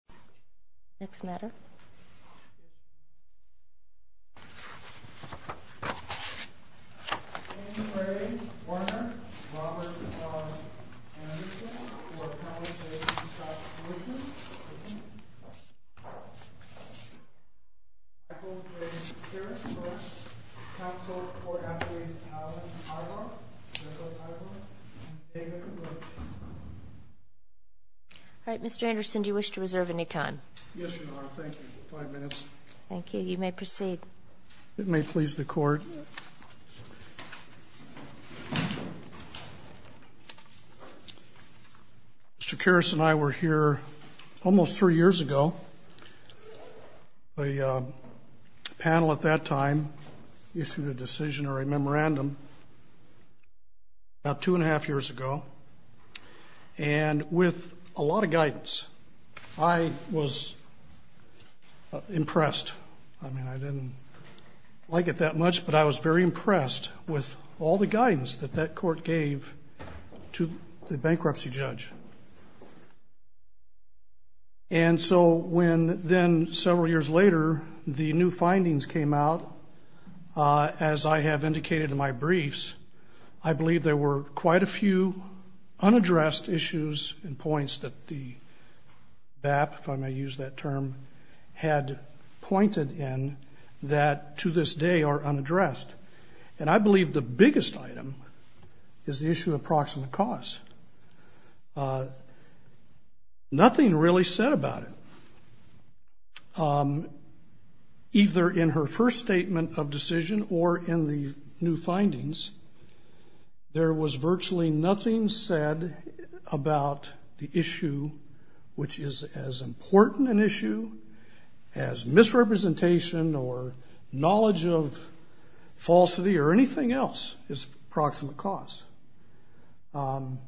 Robert Anderson, who I apologize for the stop motion. Michael J. Kirschberg, counsel for athletes Allen Ivar, Jacob Ivar, and David Lerch. Alright, Mr. Anderson, do you wish to reserve any questions? No. Yes, Your Honor. Thank you. Five minutes. Thank you. You may proceed. If it may please the Court. Mr. Kirsch and I were here almost three years ago. A panel at that time issued a decision or a memorandum about two and a half years ago. And with a lot of guidance, I was impressed. I mean, I didn't like it that much, but I was very impressed with all the guidance that that court gave to the bankruptcy judge. And so when then, several years later, the new findings came out, as I have indicated in my briefs, I believe there were quite a few unaddressed issues and points that the BAP, if I may use that term, had pointed in that to this day are unaddressed. And I believe the biggest item is the issue of approximate cost. Nothing really said about it. Either in her first statement of decision or in the new findings, there was virtually nothing said about the issue, which is as important an issue as misrepresentation or knowledge of falsity or anything else is approximate cost. And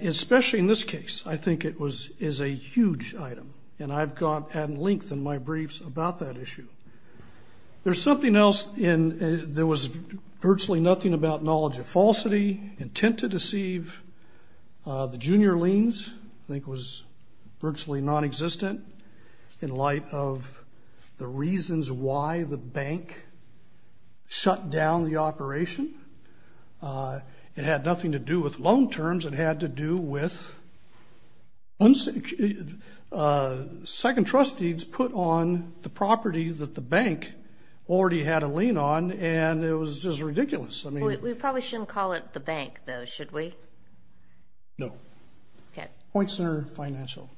especially in this case, I think it is a huge item. And I've gone at length in my briefs about that issue. There's something else, and there was virtually nothing about knowledge of falsity, intent to deceive. The junior liens, I think, was virtually nonexistent in light of the reasons why the bank shut down the operation. It had nothing to do with loan terms. It had to do with second trustees put on the property that the bank already had a lien on, and it was just ridiculous. We probably shouldn't call it the bank, though, should we? No. Point Center Financial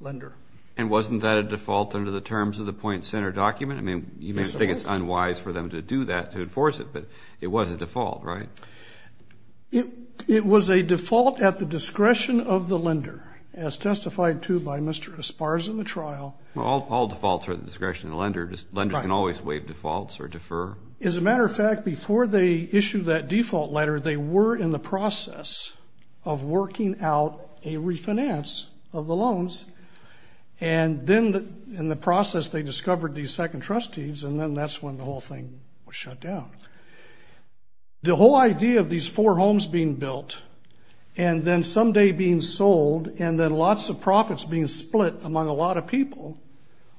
Lender. And wasn't that a default under the terms of the Point Center document? I mean, you may think it's unwise for them to do that, to enforce it, but it was a default, right? It was a default at the discretion of the lender, as testified to by Mr. Esparza in the trial. All defaults are at the discretion of the lender. Lenders can always waive defaults or defer. As a matter of fact, before they issued that default letter, they were in the process of working out a refinance of the loans, and then in the process they discovered these second trustees, and then that's when the whole thing was shut down. The whole idea of these four homes being built and then someday being sold and then lots of profits being split among a lot of people,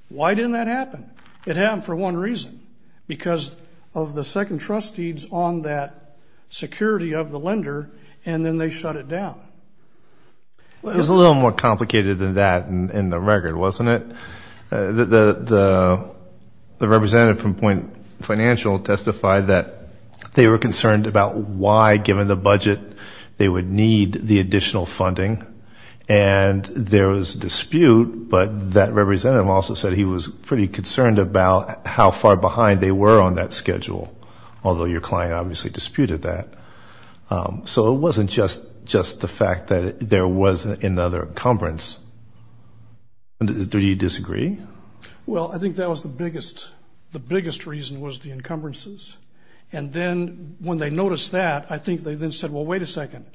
why didn't that happen? It happened for one reason, because of the second trustees on that security of the lender, and then they shut it down. It was a little more complicated than that in the record, wasn't it? The representative from Point Financial testified that they were concerned about why, given the budget, they would need the additional funding, and there was a dispute, but that representative also said he was pretty concerned about how far behind they were on that schedule, although your client obviously disputed that. So it wasn't just the fact that there was another encumbrance. Do you disagree? Well, I think that was the biggest reason was the encumbrances, and then when they noticed that, I think they then said, well, wait a second,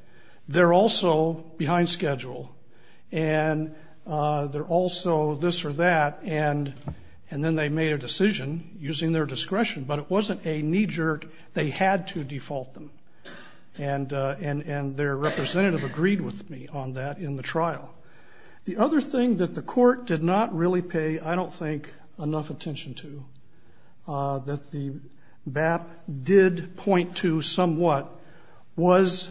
they're also behind schedule, and they're also this or that, and then they made a decision using their discretion, but it wasn't a knee jerk. They had to default them, and their representative agreed with me on that in the trial. The other thing that the court did not really pay, I don't think, enough attention to, that the BAP did point to somewhat was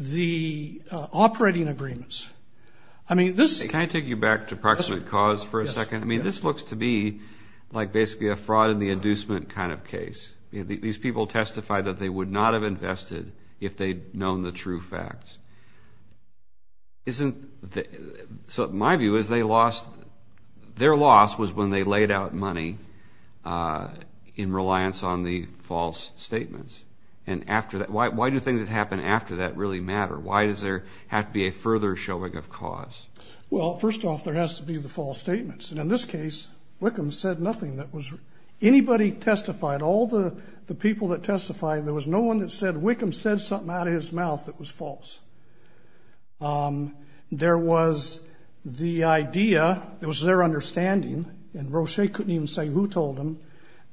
the operating agreements. Can I take you back to approximate cause for a second? I mean, this looks to me like basically a fraud in the inducement kind of case. These people testified that they would not have invested if they'd known the true facts. So my view is their loss was when they laid out money in reliance on the false statements. Why do things that happen after that really matter? Why does there have to be a further showing of cause? Well, first off, there has to be the false statements, and in this case, Wickham said nothing. Anybody testified, all the people that testified, there was no one that said Wickham said something out of his mouth that was false. There was the idea, it was their understanding, and Roche couldn't even say who told him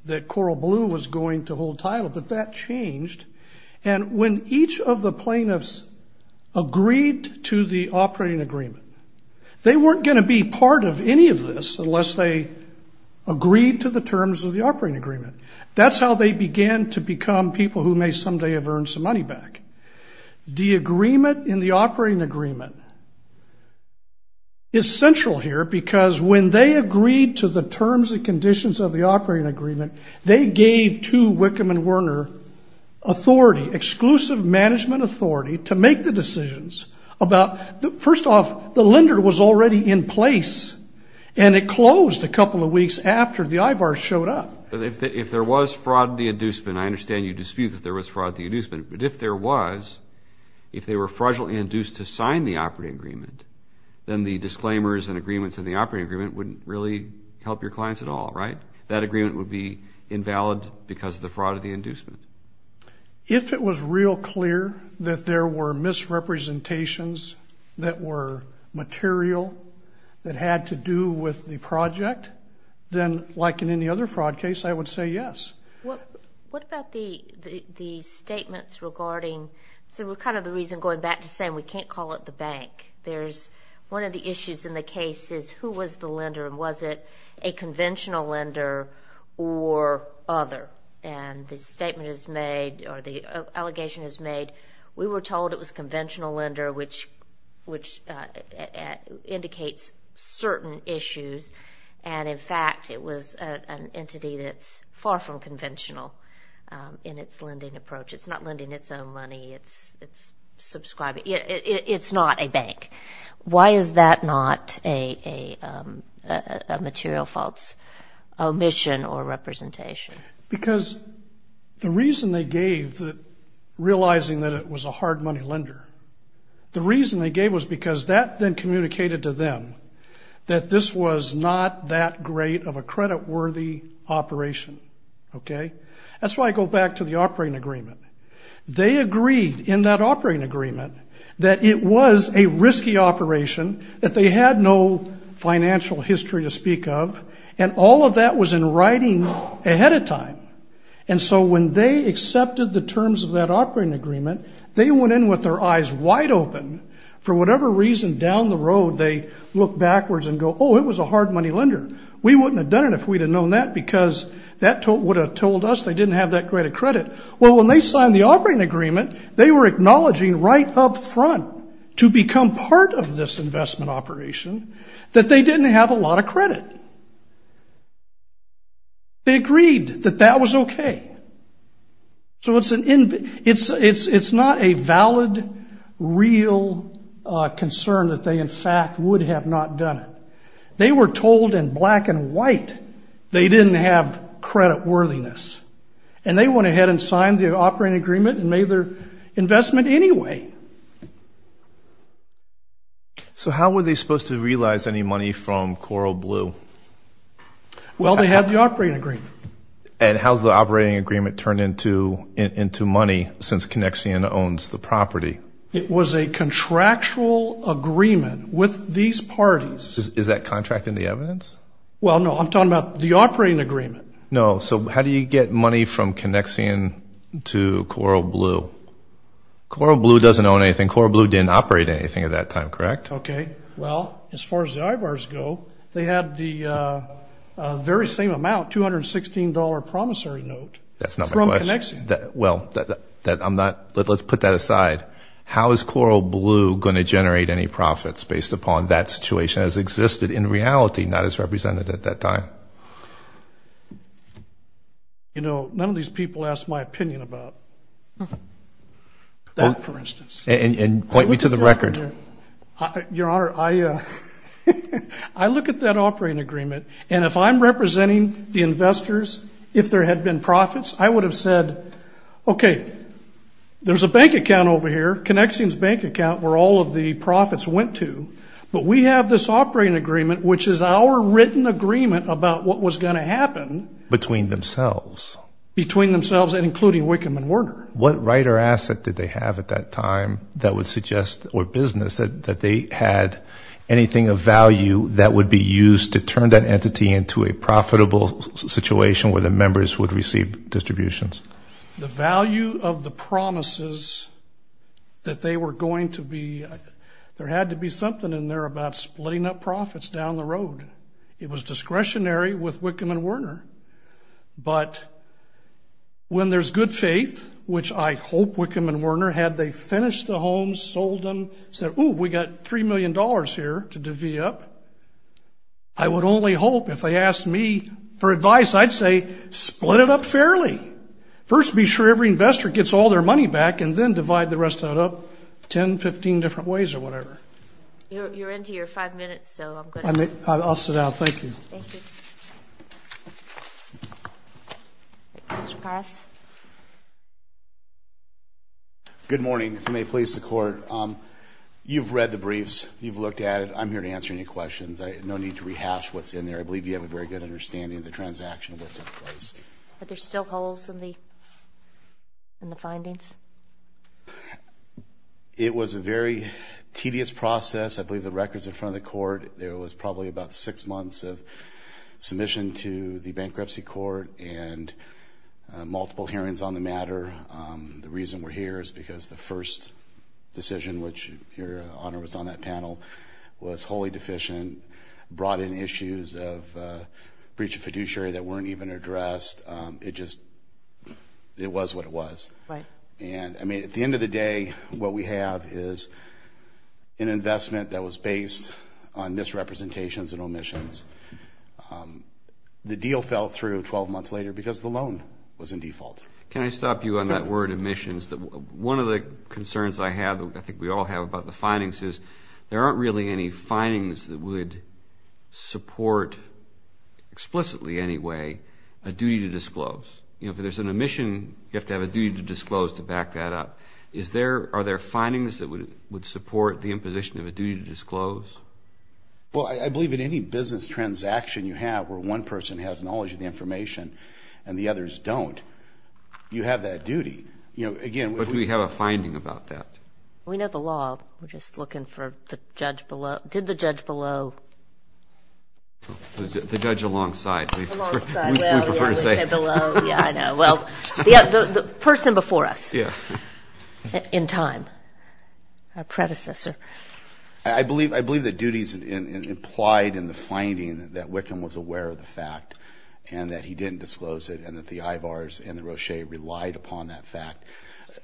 that Coral Blue was going to hold title, but that changed. And when each of the plaintiffs agreed to the operating agreement, they weren't going to be part of any of this unless they agreed to the terms of the operating agreement. That's how they began to become people who may someday have earned some money back. The agreement in the operating agreement is central here, because when they agreed to the terms and conditions of the operating agreement, they gave to Wickham and Werner authority, exclusive management authority, to make the decisions about, first off, the lender was already in place, and it closed a couple of weeks after the IVAR showed up. If there was fraud to the inducement, I understand you dispute that there was fraud to the inducement, but if there was, if they were fraudulently induced to sign the operating agreement, then the disclaimers and agreements in the operating agreement wouldn't really help your clients at all, right? That agreement would be invalid because of the fraud to the inducement. If it was real clear that there were misrepresentations that were material that had to do with the project, then like in any other fraud case, I would say yes. What about the statements regarding, so kind of the reason going back to saying we can't call it the bank. There's one of the issues in the case is who was the lender, and was it a conventional lender or other? And the statement is made, or the allegation is made, we were told it was conventional lender, which indicates certain issues, and in fact it was an entity that's far from conventional in its lending approach. It's not lending its own money. It's subscribing. It's not a bank. Why is that not a material faults omission or representation? Because the reason they gave, realizing that it was a hard money lender, the reason they gave was because that then communicated to them that this was not that great of a creditworthy operation. Okay? That's why I go back to the operating agreement. They agreed in that operating agreement that it was a risky operation, that they had no financial history to speak of, and all of that was in writing ahead of time. And so when they accepted the terms of that operating agreement, they went in with their eyes wide open. For whatever reason, down the road, they looked backwards and go, oh, it was a hard money lender. We wouldn't have done it if we'd have known that because that would have told us they didn't have that great of credit. Well, when they signed the operating agreement, they were acknowledging right up front to become part of this investment operation that they didn't have a lot of credit. They agreed that that was okay. So it's not a valid, real concern that they, in fact, would have not done it. They were told in black and white they didn't have creditworthiness. And they went ahead and signed the operating agreement and made their investment anyway. So how were they supposed to realize any money from Coral Blue? Well, they had the operating agreement. And how's the operating agreement turned into money since Connexion owns the property? It was a contractual agreement with these parties. Is that contract in the evidence? Well, no. I'm talking about the operating agreement. No. So how do you get money from Connexion to Coral Blue? Coral Blue doesn't own anything. Coral Blue didn't operate anything at that time, correct? Okay. Well, as far as the IBARs go, they had the very same amount, $216 promissory note from Connexion. Well, let's put that aside. How is Coral Blue going to generate any profits based upon that situation as existed in reality, not as represented at that time? You know, none of these people asked my opinion about that, for instance. And point me to the record. Your Honor, I look at that operating agreement, and if I'm representing the investors, if there had been profits, I would have said, okay, there's a bank account over here, Connexion's bank account where all of the profits went to, but we have this operating agreement which is our written agreement about what was going to happen. Between themselves. Between themselves and including Wickham and Werner. What right or asset did they have at that time that would suggest, or business, that they had anything of value that would be used to turn that entity into a profitable situation where the members would receive distributions? The value of the promises that they were going to be, there had to be something in there about splitting up profits down the road. It was discretionary with Wickham and Werner. But when there's good faith, which I hope Wickham and Werner had, they finished the homes, sold them, said, ooh, we've got $3 million here to divvy up. I would only hope if they asked me for advice, I'd say split it up fairly. First be sure every investor gets all their money back, and then divide the rest of that up 10, 15 different ways or whatever. You're into your five minutes, so I'm going to. I'll sit down. Thank you. Mr. Parras. Good morning. If it may please the court, you've read the briefs. You've looked at it. I'm here to answer any questions. No need to rehash what's in there. I believe you have a very good understanding of the transaction that took place. But there's still holes in the findings? It was a very tedious process. I believe the record's in front of the court. There was probably about six months of submission to the bankruptcy court and multiple hearings on the matter. The reason we're here is because the first decision, which your Honor was on that panel, was wholly deficient, brought in issues of breach of fiduciary that weren't even addressed. It just was what it was. At the end of the day, what we have is an investment that was based on misrepresentations and omissions. The deal fell through 12 months later because the loan was in default. Can I stop you on that word, omissions? One of the concerns I have, I think we all have about the findings, is there aren't really any findings that would support, explicitly anyway, a duty to disclose. If there's an omission, you have to have a duty to disclose to back that up. Are there findings that would support the imposition of a duty to disclose? I believe in any business transaction you have where one person has knowledge of the information and the others don't, you have that duty. But do we have a finding about that? We know the law. We're just looking for the judge below. Did the judge below? The judge alongside. We prefer to say below. Yeah, I know. Well, the person before us in time, our predecessor. I believe the duties implied in the finding that Wickham was aware of the fact and that he didn't disclose it and that the IVARs and the Roche relied upon that fact.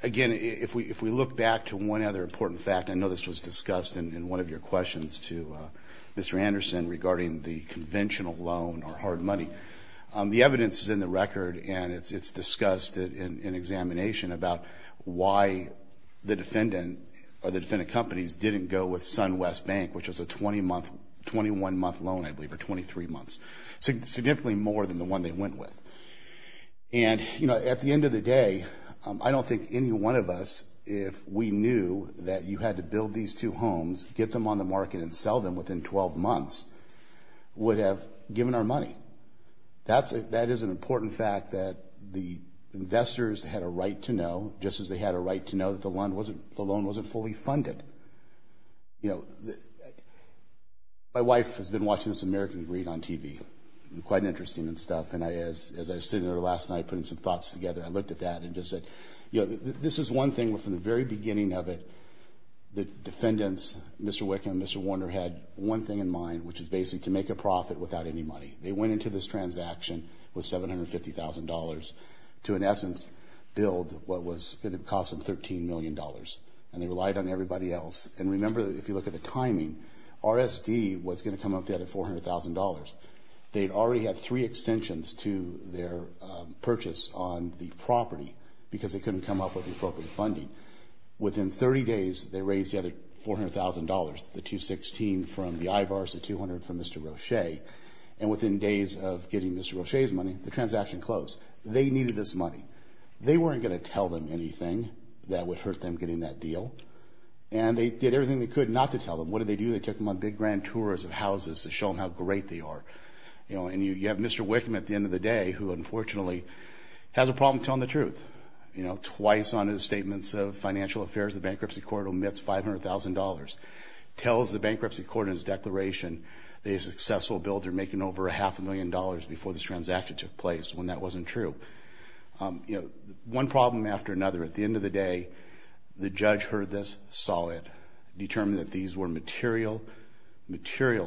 Again, if we look back to one other important fact, I know this was discussed in one of your questions to Mr. Anderson regarding the conventional loan or hard money, the evidence is in the record and it's discussed in examination about why the defendant or the defendant companies didn't go with SunWest Bank, which was a 21-month loan, I believe, or 23 months, significantly more than the one they went with. And, you know, at the end of the day, I don't think any one of us, if we knew that you had to build these two homes, get them on the market and sell them within 12 months, would have given our money. That is an important fact that the investors had a right to know, just as they had a right to know that the loan wasn't fully funded. You know, my wife has been watching this American Greed on TV, quite interesting stuff, and as I was sitting there last night putting some thoughts together, I looked at that and just said, you know, this is one thing where from the very beginning of it, the defendants, Mr. Wickham, Mr. Warner, had one thing in mind, which is basically to make a profit without any money. They went into this transaction with $750,000 to, in essence, build what was going to cost them $13 million, and they relied on everybody else. And remember, if you look at the timing, RSD was going to come up with the other $400,000. They'd already had three extensions to their purchase on the property because they couldn't come up with the appropriate funding. Within 30 days, they raised the other $400,000, the $216,000 from the IVARs, the $200,000 from Mr. Roche, and within days of getting Mr. Roche's money, the transaction closed. They needed this money. They weren't going to tell them anything that would hurt them getting that deal, and they did everything they could not to tell them. What did they do? They took them on big grand tours of houses to show them how great they are. You know, and you have Mr. Wickham at the end of the day, who unfortunately has a problem telling the truth, you know, in terms of financial affairs, the bankruptcy court omits $500,000, tells the bankruptcy court in his declaration that he's a successful builder making over a half a million dollars before this transaction took place when that wasn't true. You know, one problem after another, at the end of the day, the judge heard this, saw it, determined that these were material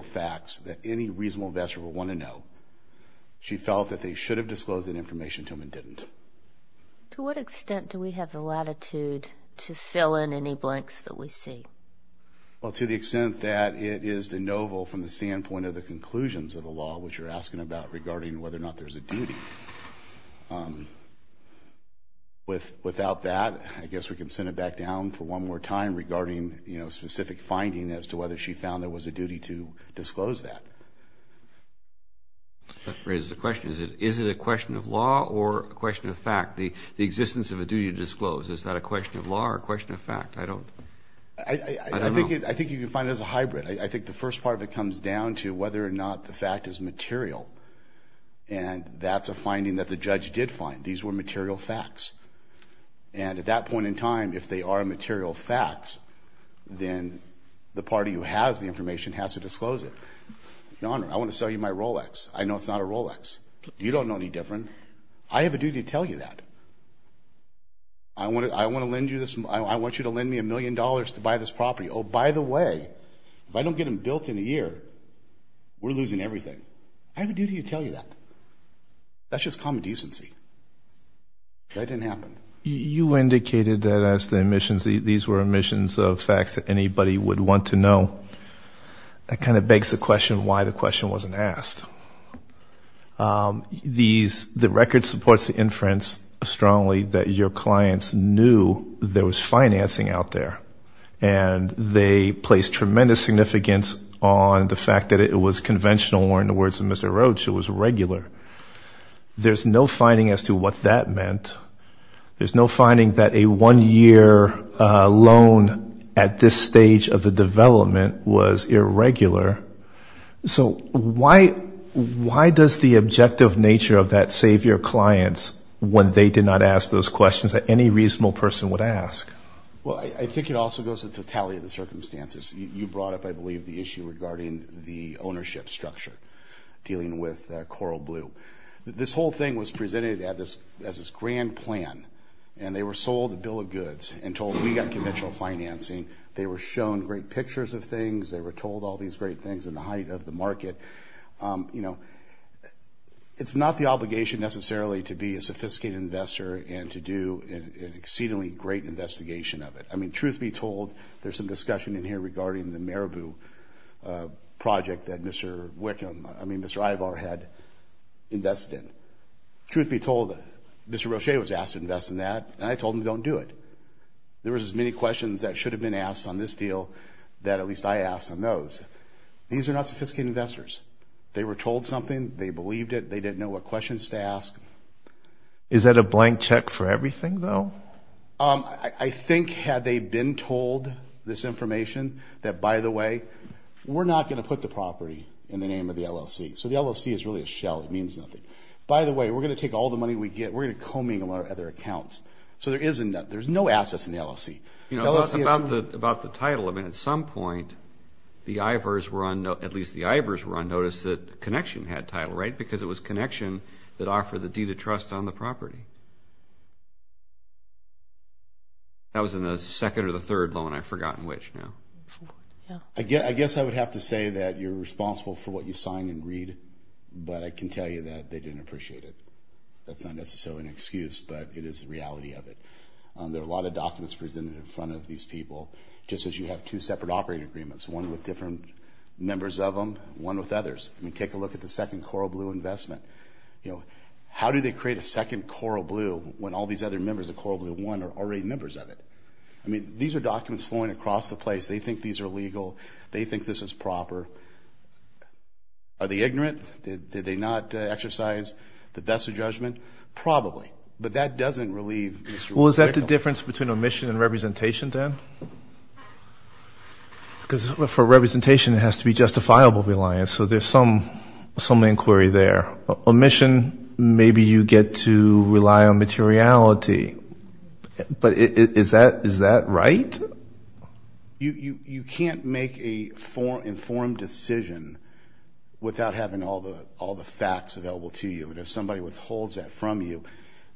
facts that any reasonable investor would want to know. She felt that they should have disclosed that information to them and didn't. To what extent do we have the latitude to fill in any blanks that we see? Well, to the extent that it is de novo from the standpoint of the conclusions of the law which you're asking about regarding whether or not there's a duty. Without that, I guess we can send it back down for one more time regarding, you know, specific finding as to whether she found there was a duty to disclose that. That raises a question. Is it a question of law or a question of fact? The existence of a duty to disclose, is that a question of law or a question of fact? I don't know. I think you can find it as a hybrid. I think the first part of it comes down to whether or not the fact is material, and that's a finding that the judge did find. These were material facts. And at that point in time, if they are material facts, then the party who has the information has to disclose it. Your Honor, I want to sell you my Rolex. I know it's not a Rolex. You don't know any different. I have a duty to tell you that. I want to lend you this. I want you to lend me a million dollars to buy this property. Oh, by the way, if I don't get them built in a year, we're losing everything. I have a duty to tell you that. That's just common decency. That didn't happen. You indicated that as the omissions, these were omissions of facts that anybody would want to know. That kind of begs the question why the question wasn't asked. The record supports the inference strongly that your clients knew there was financing out there, and they placed tremendous significance on the fact that it was conventional, or in the words of Mr. Roach, it was regular. There's no finding as to what that meant. There's no finding that a one-year loan at this stage of the development was irregular. So why does the objective nature of that save your clients when they did not ask those questions that any reasonable person would ask? Well, I think it also goes to the tally of the circumstances. You brought up, I believe, the issue regarding the ownership structure dealing with Coral Blue. This whole thing was presented as this grand plan, and they were sold a bill of goods and told we got conventional financing. They were shown great pictures of things. They were told all these great things in the height of the market. It's not the obligation necessarily to be a sophisticated investor and to do an exceedingly great investigation of it. I mean, truth be told, there's some discussion in here regarding the Marabu project that Mr. Wickham, I mean, Mr. Ivar had invested in. Truth be told, Mr. Roach was asked to invest in that, and I told him don't do it. There was as many questions that should have been asked on this deal that at least I asked on those. These are not sophisticated investors. They were told something. They believed it. They didn't know what questions to ask. Is that a blank check for everything, though? I think had they been told this information that, by the way, we're not going to put the property in the name of the LLC. So the LLC is really a shell. It means nothing. By the way, we're going to take all the money we get. We're going to co-mingle our other accounts. So there's no assets in the LLC. About the title, I mean, at some point the Ivars were on notice that Connection had title, right, because it was Connection that offered the deed of trust on the property. That was in the second or the third loan. I've forgotten which now. I guess I would have to say that you're responsible for what you sign and read, but I can tell you that they didn't appreciate it. That's not necessarily an excuse, but it is the reality of it. There are a lot of documents presented in front of these people, just as you have two separate operating agreements, one with different members of them, one with others. I mean, take a look at the second Coral Blue investment. How do they create a second Coral Blue when all these other members of Coral Blue I are already members of it? I mean, these are documents flowing across the place. They think these are legal. They think this is proper. Are they ignorant? Did they not exercise the best of judgment? Probably. But that doesn't relieve Mr. Wickham. Well, is that the difference between omission and representation then? Because for representation it has to be justifiable reliance, so there's some inquiry there. Omission, maybe you get to rely on materiality. But is that right? You can't make an informed decision without having all the facts available to you. And if somebody withholds that from you,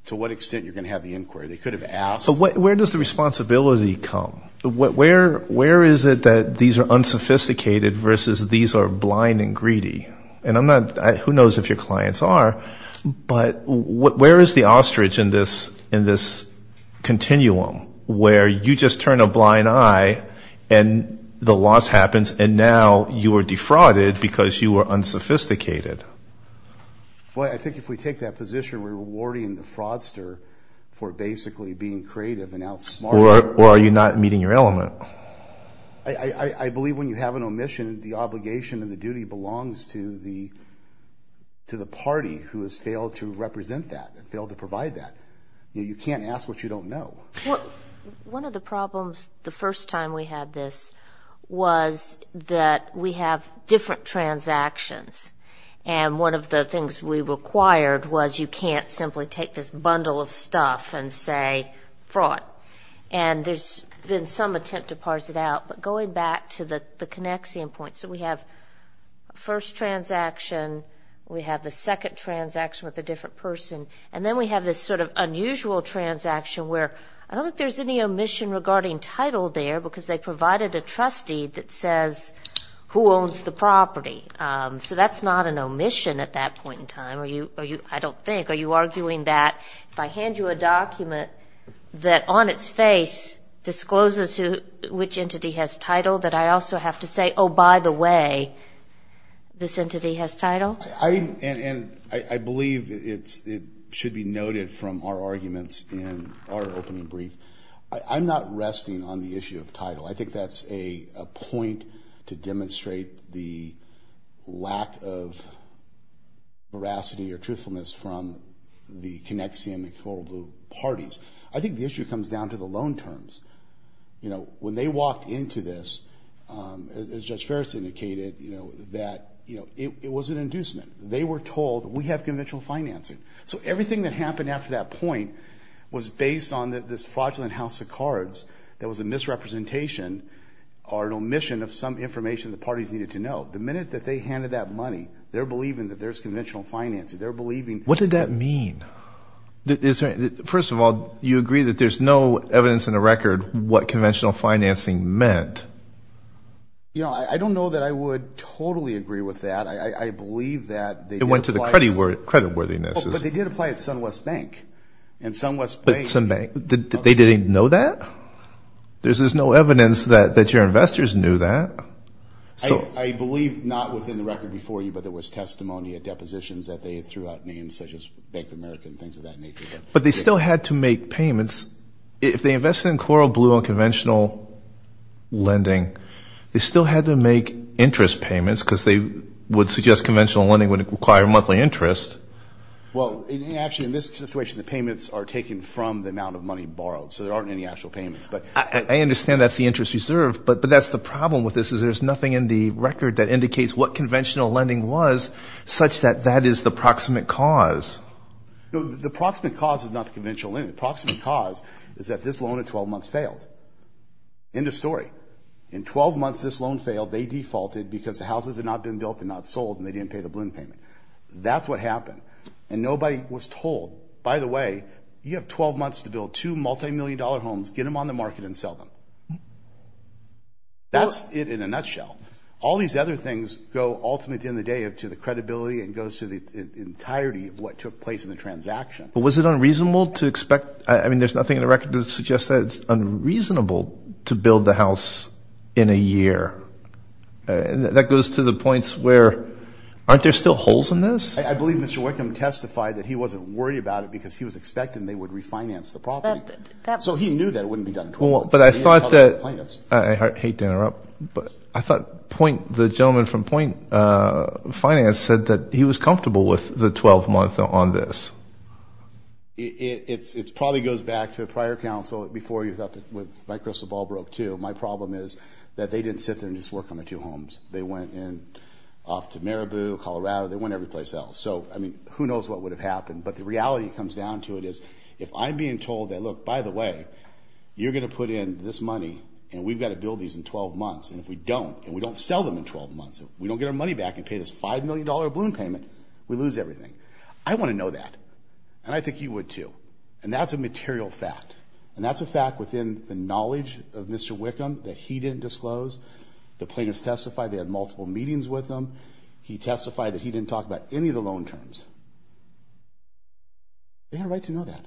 to what extent are you going to have the inquiry? They could have asked. But where does the responsibility come? Where is it that these are unsophisticated versus these are blind and greedy? Who knows if your clients are? But where is the ostrich in this continuum where you just turn a blind eye and the loss happens and now you are defrauded because you are unsophisticated? Well, I think if we take that position, we're rewarding the fraudster for basically being creative and outsmarting them. Or are you not meeting your element? I believe when you have an omission, the obligation and the duty belongs to the party who has failed to represent that and failed to provide that. You can't ask what you don't know. One of the problems the first time we had this was that we have different transactions. And one of the things we required was you can't simply take this bundle of stuff and say fraud. And there's been some attempt to parse it out. But going back to the connexion point, so we have first transaction, we have the second transaction with a different person, and then we have this sort of unusual transaction where I don't think there's any omission regarding title there because they provided a trustee that says who owns the property. So that's not an omission at that point in time, I don't think. Are you arguing that if I hand you a document that on its face discloses which entity has title, that I also have to say, oh, by the way, this entity has title? And I believe it should be noted from our arguments in our opening brief. I'm not resting on the issue of title. I think that's a point to demonstrate the lack of veracity or truthfulness from the Connexium and Coral Blue parties. I think the issue comes down to the loan terms. You know, when they walked into this, as Judge Ferris indicated, you know, that, you know, it was an inducement. They were told we have conventional financing. So everything that happened after that point was based on this fraudulent house of cards that was a misrepresentation or an omission of some information the parties needed to know. The minute that they handed that money, they're believing that there's conventional financing. They're believing. What did that mean? First of all, you agree that there's no evidence in the record what conventional financing meant. You know, I don't know that I would totally agree with that. It went to the creditworthiness. But they did apply at SunWest Bank. But SunWest Bank, they didn't know that? There's no evidence that your investors knew that. I believe not within the record before you, but there was testimony at depositions that they threw out names such as Bank of America and things of that nature. But they still had to make payments. If they invested in Coral Blue on conventional lending, they still had to make interest payments because they would suggest conventional lending would require monthly interest. Well, actually, in this situation, the payments are taken from the amount of money borrowed. So there aren't any actual payments. But I understand that's the interest reserved. But that's the problem with this is there's nothing in the record that indicates what conventional lending was, such that that is the proximate cause. The proximate cause is not the conventional lending. The proximate cause is that this loan at 12 months failed. End of story. In 12 months, this loan failed. They defaulted because the houses had not been built and not sold, and they didn't pay the balloon payment. That's what happened. And nobody was told, by the way, you have 12 months to build two multimillion-dollar homes. Get them on the market and sell them. That's it in a nutshell. All these other things go ultimately in the day up to the credibility and goes to the entirety of what took place in the transaction. But was it unreasonable to expect? I mean, there's nothing in the record that suggests that it's unreasonable to build the house in a year. That goes to the points where aren't there still holes in this? I believe Mr. Wickham testified that he wasn't worried about it because he was expecting they would refinance the property. So he knew that it wouldn't be done in 12 months. I hate to interrupt, but I thought the gentleman from Point Finance said that he was comfortable with the 12-month on this. It probably goes back to a prior counsel before you thought that Mike Russell's ball broke, too. My problem is that they didn't sit there and just work on the two homes. They went off to Maribu, Colorado. They went every place else. So, I mean, who knows what would have happened. But the reality comes down to it is if I'm being told that, look, by the way, you're going to put in this money and we've got to build these in 12 months. And if we don't and we don't sell them in 12 months, if we don't get our money back and pay this $5 million balloon payment, we lose everything. I want to know that. And I think you would, too. And that's a material fact. And that's a fact within the knowledge of Mr. Wickham that he didn't disclose. The plaintiffs testified they had multiple meetings with him. He testified that he didn't talk about any of the loan terms. They had a right to know that.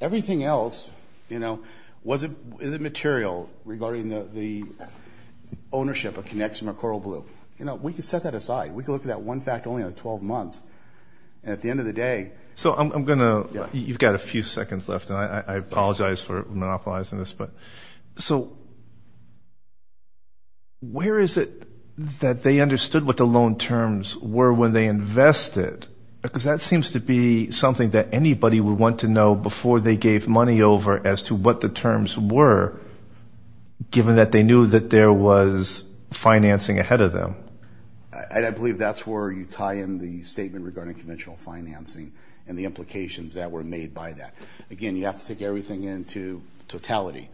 Everything else, you know, was it material regarding the ownership of Connexum or Coral Blue? You know, we could set that aside. We could look at that one fact only out of 12 months. And at the end of the day. So, I'm going to. You've got a few seconds left. I apologize for monopolizing this. So, where is it that they understood what the loan terms were when they invested? Because that seems to be something that anybody would want to know before they gave money over as to what the terms were, given that they knew that there was financing ahead of them. I believe that's where you tie in the statement regarding conventional financing and the implications that were made by that. Again, you have to take everything into totality.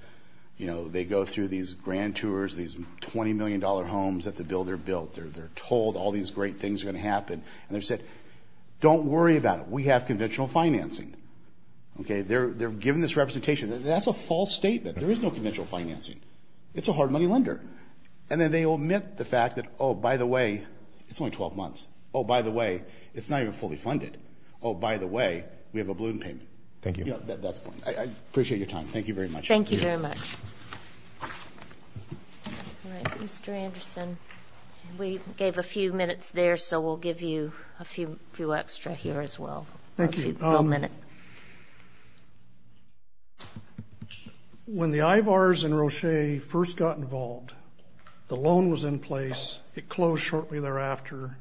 You know, they go through these grand tours, these $20 million homes that the builder built. They're told all these great things are going to happen. And they said, don't worry about it. We have conventional financing. They're given this representation. That's a false statement. There is no conventional financing. It's a hard money lender. And then they omit the fact that, oh, by the way, it's only 12 months. Oh, by the way, it's not even fully funded. Oh, by the way, we have a balloon payment. Thank you. Yeah, that's fine. I appreciate your time. Thank you very much. Thank you very much. All right, Mr. Anderson, we gave a few minutes there, so we'll give you a few extra here as well. Thank you. One minute. When the IVARs and Roche first got involved, the loan was in place. It closed shortly thereafter.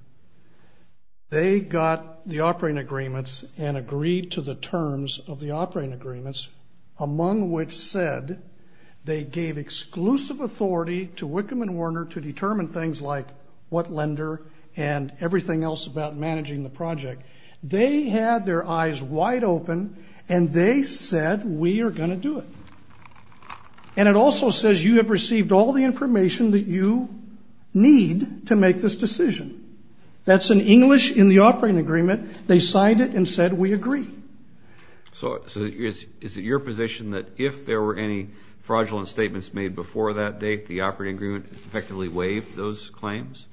They got the operating agreements and agreed to the terms of the operating agreements, among which said they gave exclusive authority to Wickham & Warner to determine things like what lender and everything else about managing the project. They had their eyes wide open, and they said, we are going to do it. And it also says you have received all the information that you need to make this decision. That's in English in the operating agreement. They signed it and said we agree. So is it your position that if there were any fraudulent statements made before that date, the operating agreement effectively waived those claims?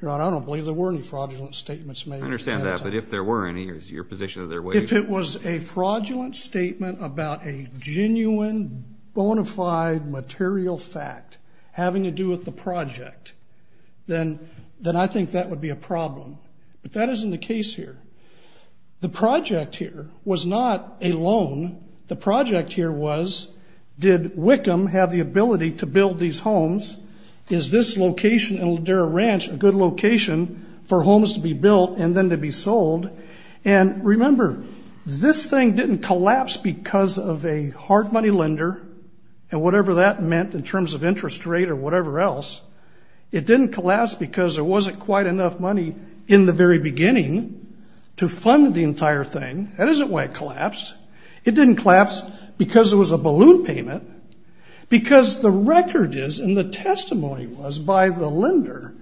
Your Honor, I don't believe there were any fraudulent statements made at that time. I understand that. But if there were any, is your position that they're waived? If it was a fraudulent statement about a genuine bona fide material fact having to do with the project, then I think that would be a problem. But that isn't the case here. The project here was not a loan. The project here was, did Wickham have the ability to build these homes? Is this location in Ladera Ranch a good location for homes to be built and then to be sold? And remember, this thing didn't collapse because of a hard money lender and whatever that meant in terms of interest rate or whatever else. It didn't collapse because there wasn't quite enough money in the very beginning to fund the entire thing. That isn't why it collapsed. It didn't collapse because it was a balloon payment, because the record is and the testimony was by the lender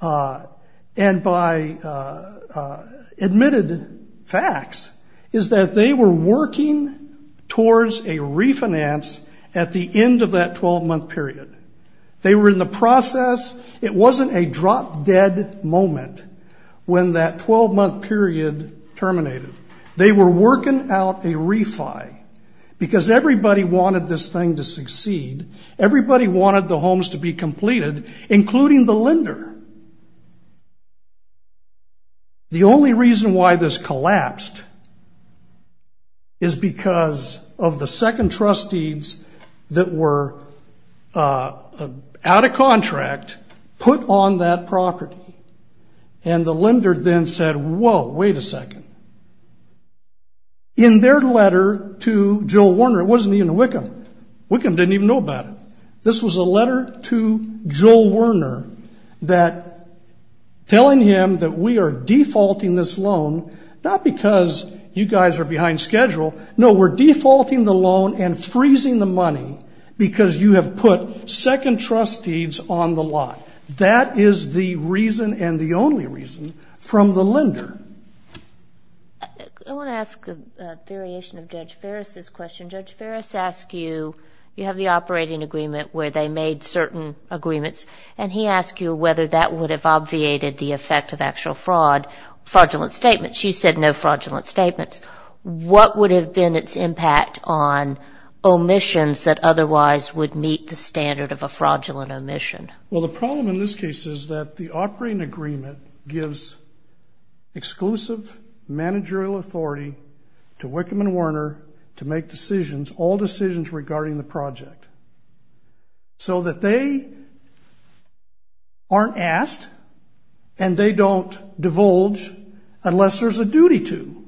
and by admitted facts, is that they were working towards a refinance at the end of that 12-month period. They were in the process. It wasn't a drop-dead moment when that 12-month period terminated. They were working out a refi because everybody wanted this thing to succeed. Everybody wanted the homes to be completed, including the lender. The only reason why this collapsed is because of the second trustees that were out of contract put on that property. And the lender then said, whoa, wait a second. In their letter to Joe Warner, it wasn't even Wickham. Wickham didn't even know about it. This was a letter to Joe Warner that telling him that we are defaulting this loan, not because you guys are behind schedule, no, we're defaulting the loan and freezing the money because you have put second trustees on the lot. That is the reason and the only reason from the lender. I want to ask a variation of Judge Ferris' question. Judge Ferris asked you, you have the operating agreement where they made certain agreements, and he asked you whether that would have obviated the effect of actual fraud, fraudulent statements. You said no fraudulent statements. What would have been its impact on omissions that otherwise would meet the standard of a fraudulent omission? Well, the problem in this case is that the operating agreement gives exclusive managerial authority to Wickham and Warner to make decisions, all decisions regarding the project, so that they aren't asked and they don't divulge unless there's a duty to.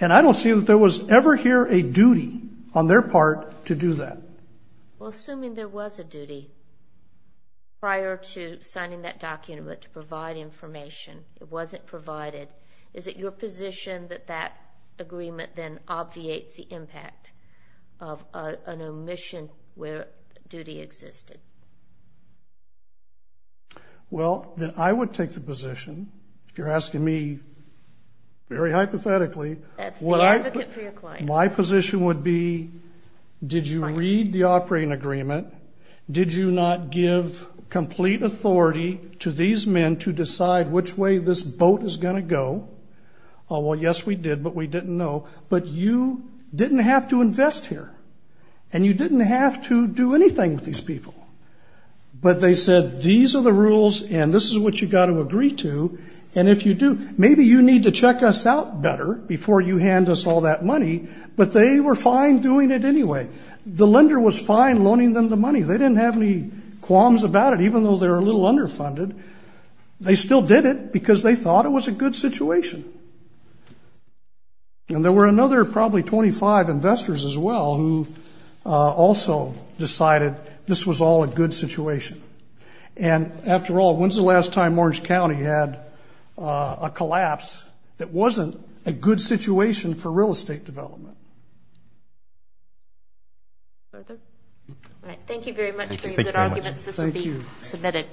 And I don't see that there was ever here a duty on their part to do that. Well, assuming there was a duty prior to signing that document to provide information. It wasn't provided. Is it your position that that agreement then obviates the impact of an omission where duty existed? Well, I would take the position, if you're asking me very hypothetically. That's the advocate for your client. My position would be, did you read the operating agreement? Did you not give complete authority to these men to decide which way this boat is going to go? Well, yes, we did, but we didn't know. But you didn't have to invest here. And you didn't have to do anything with these people. But they said, these are the rules and this is what you've got to agree to. And if you do, maybe you need to check us out better before you hand us all that money. But they were fine doing it anyway. The lender was fine loaning them the money. They didn't have any qualms about it, even though they were a little underfunded. They still did it because they thought it was a good situation. And there were another probably 25 investors as well who also decided this was all a good situation. And, after all, when's the last time Orange County had a collapse that wasn't a good situation for real estate development? Further? All right, thank you very much for your good arguments. Thank you very much. This will be submitted.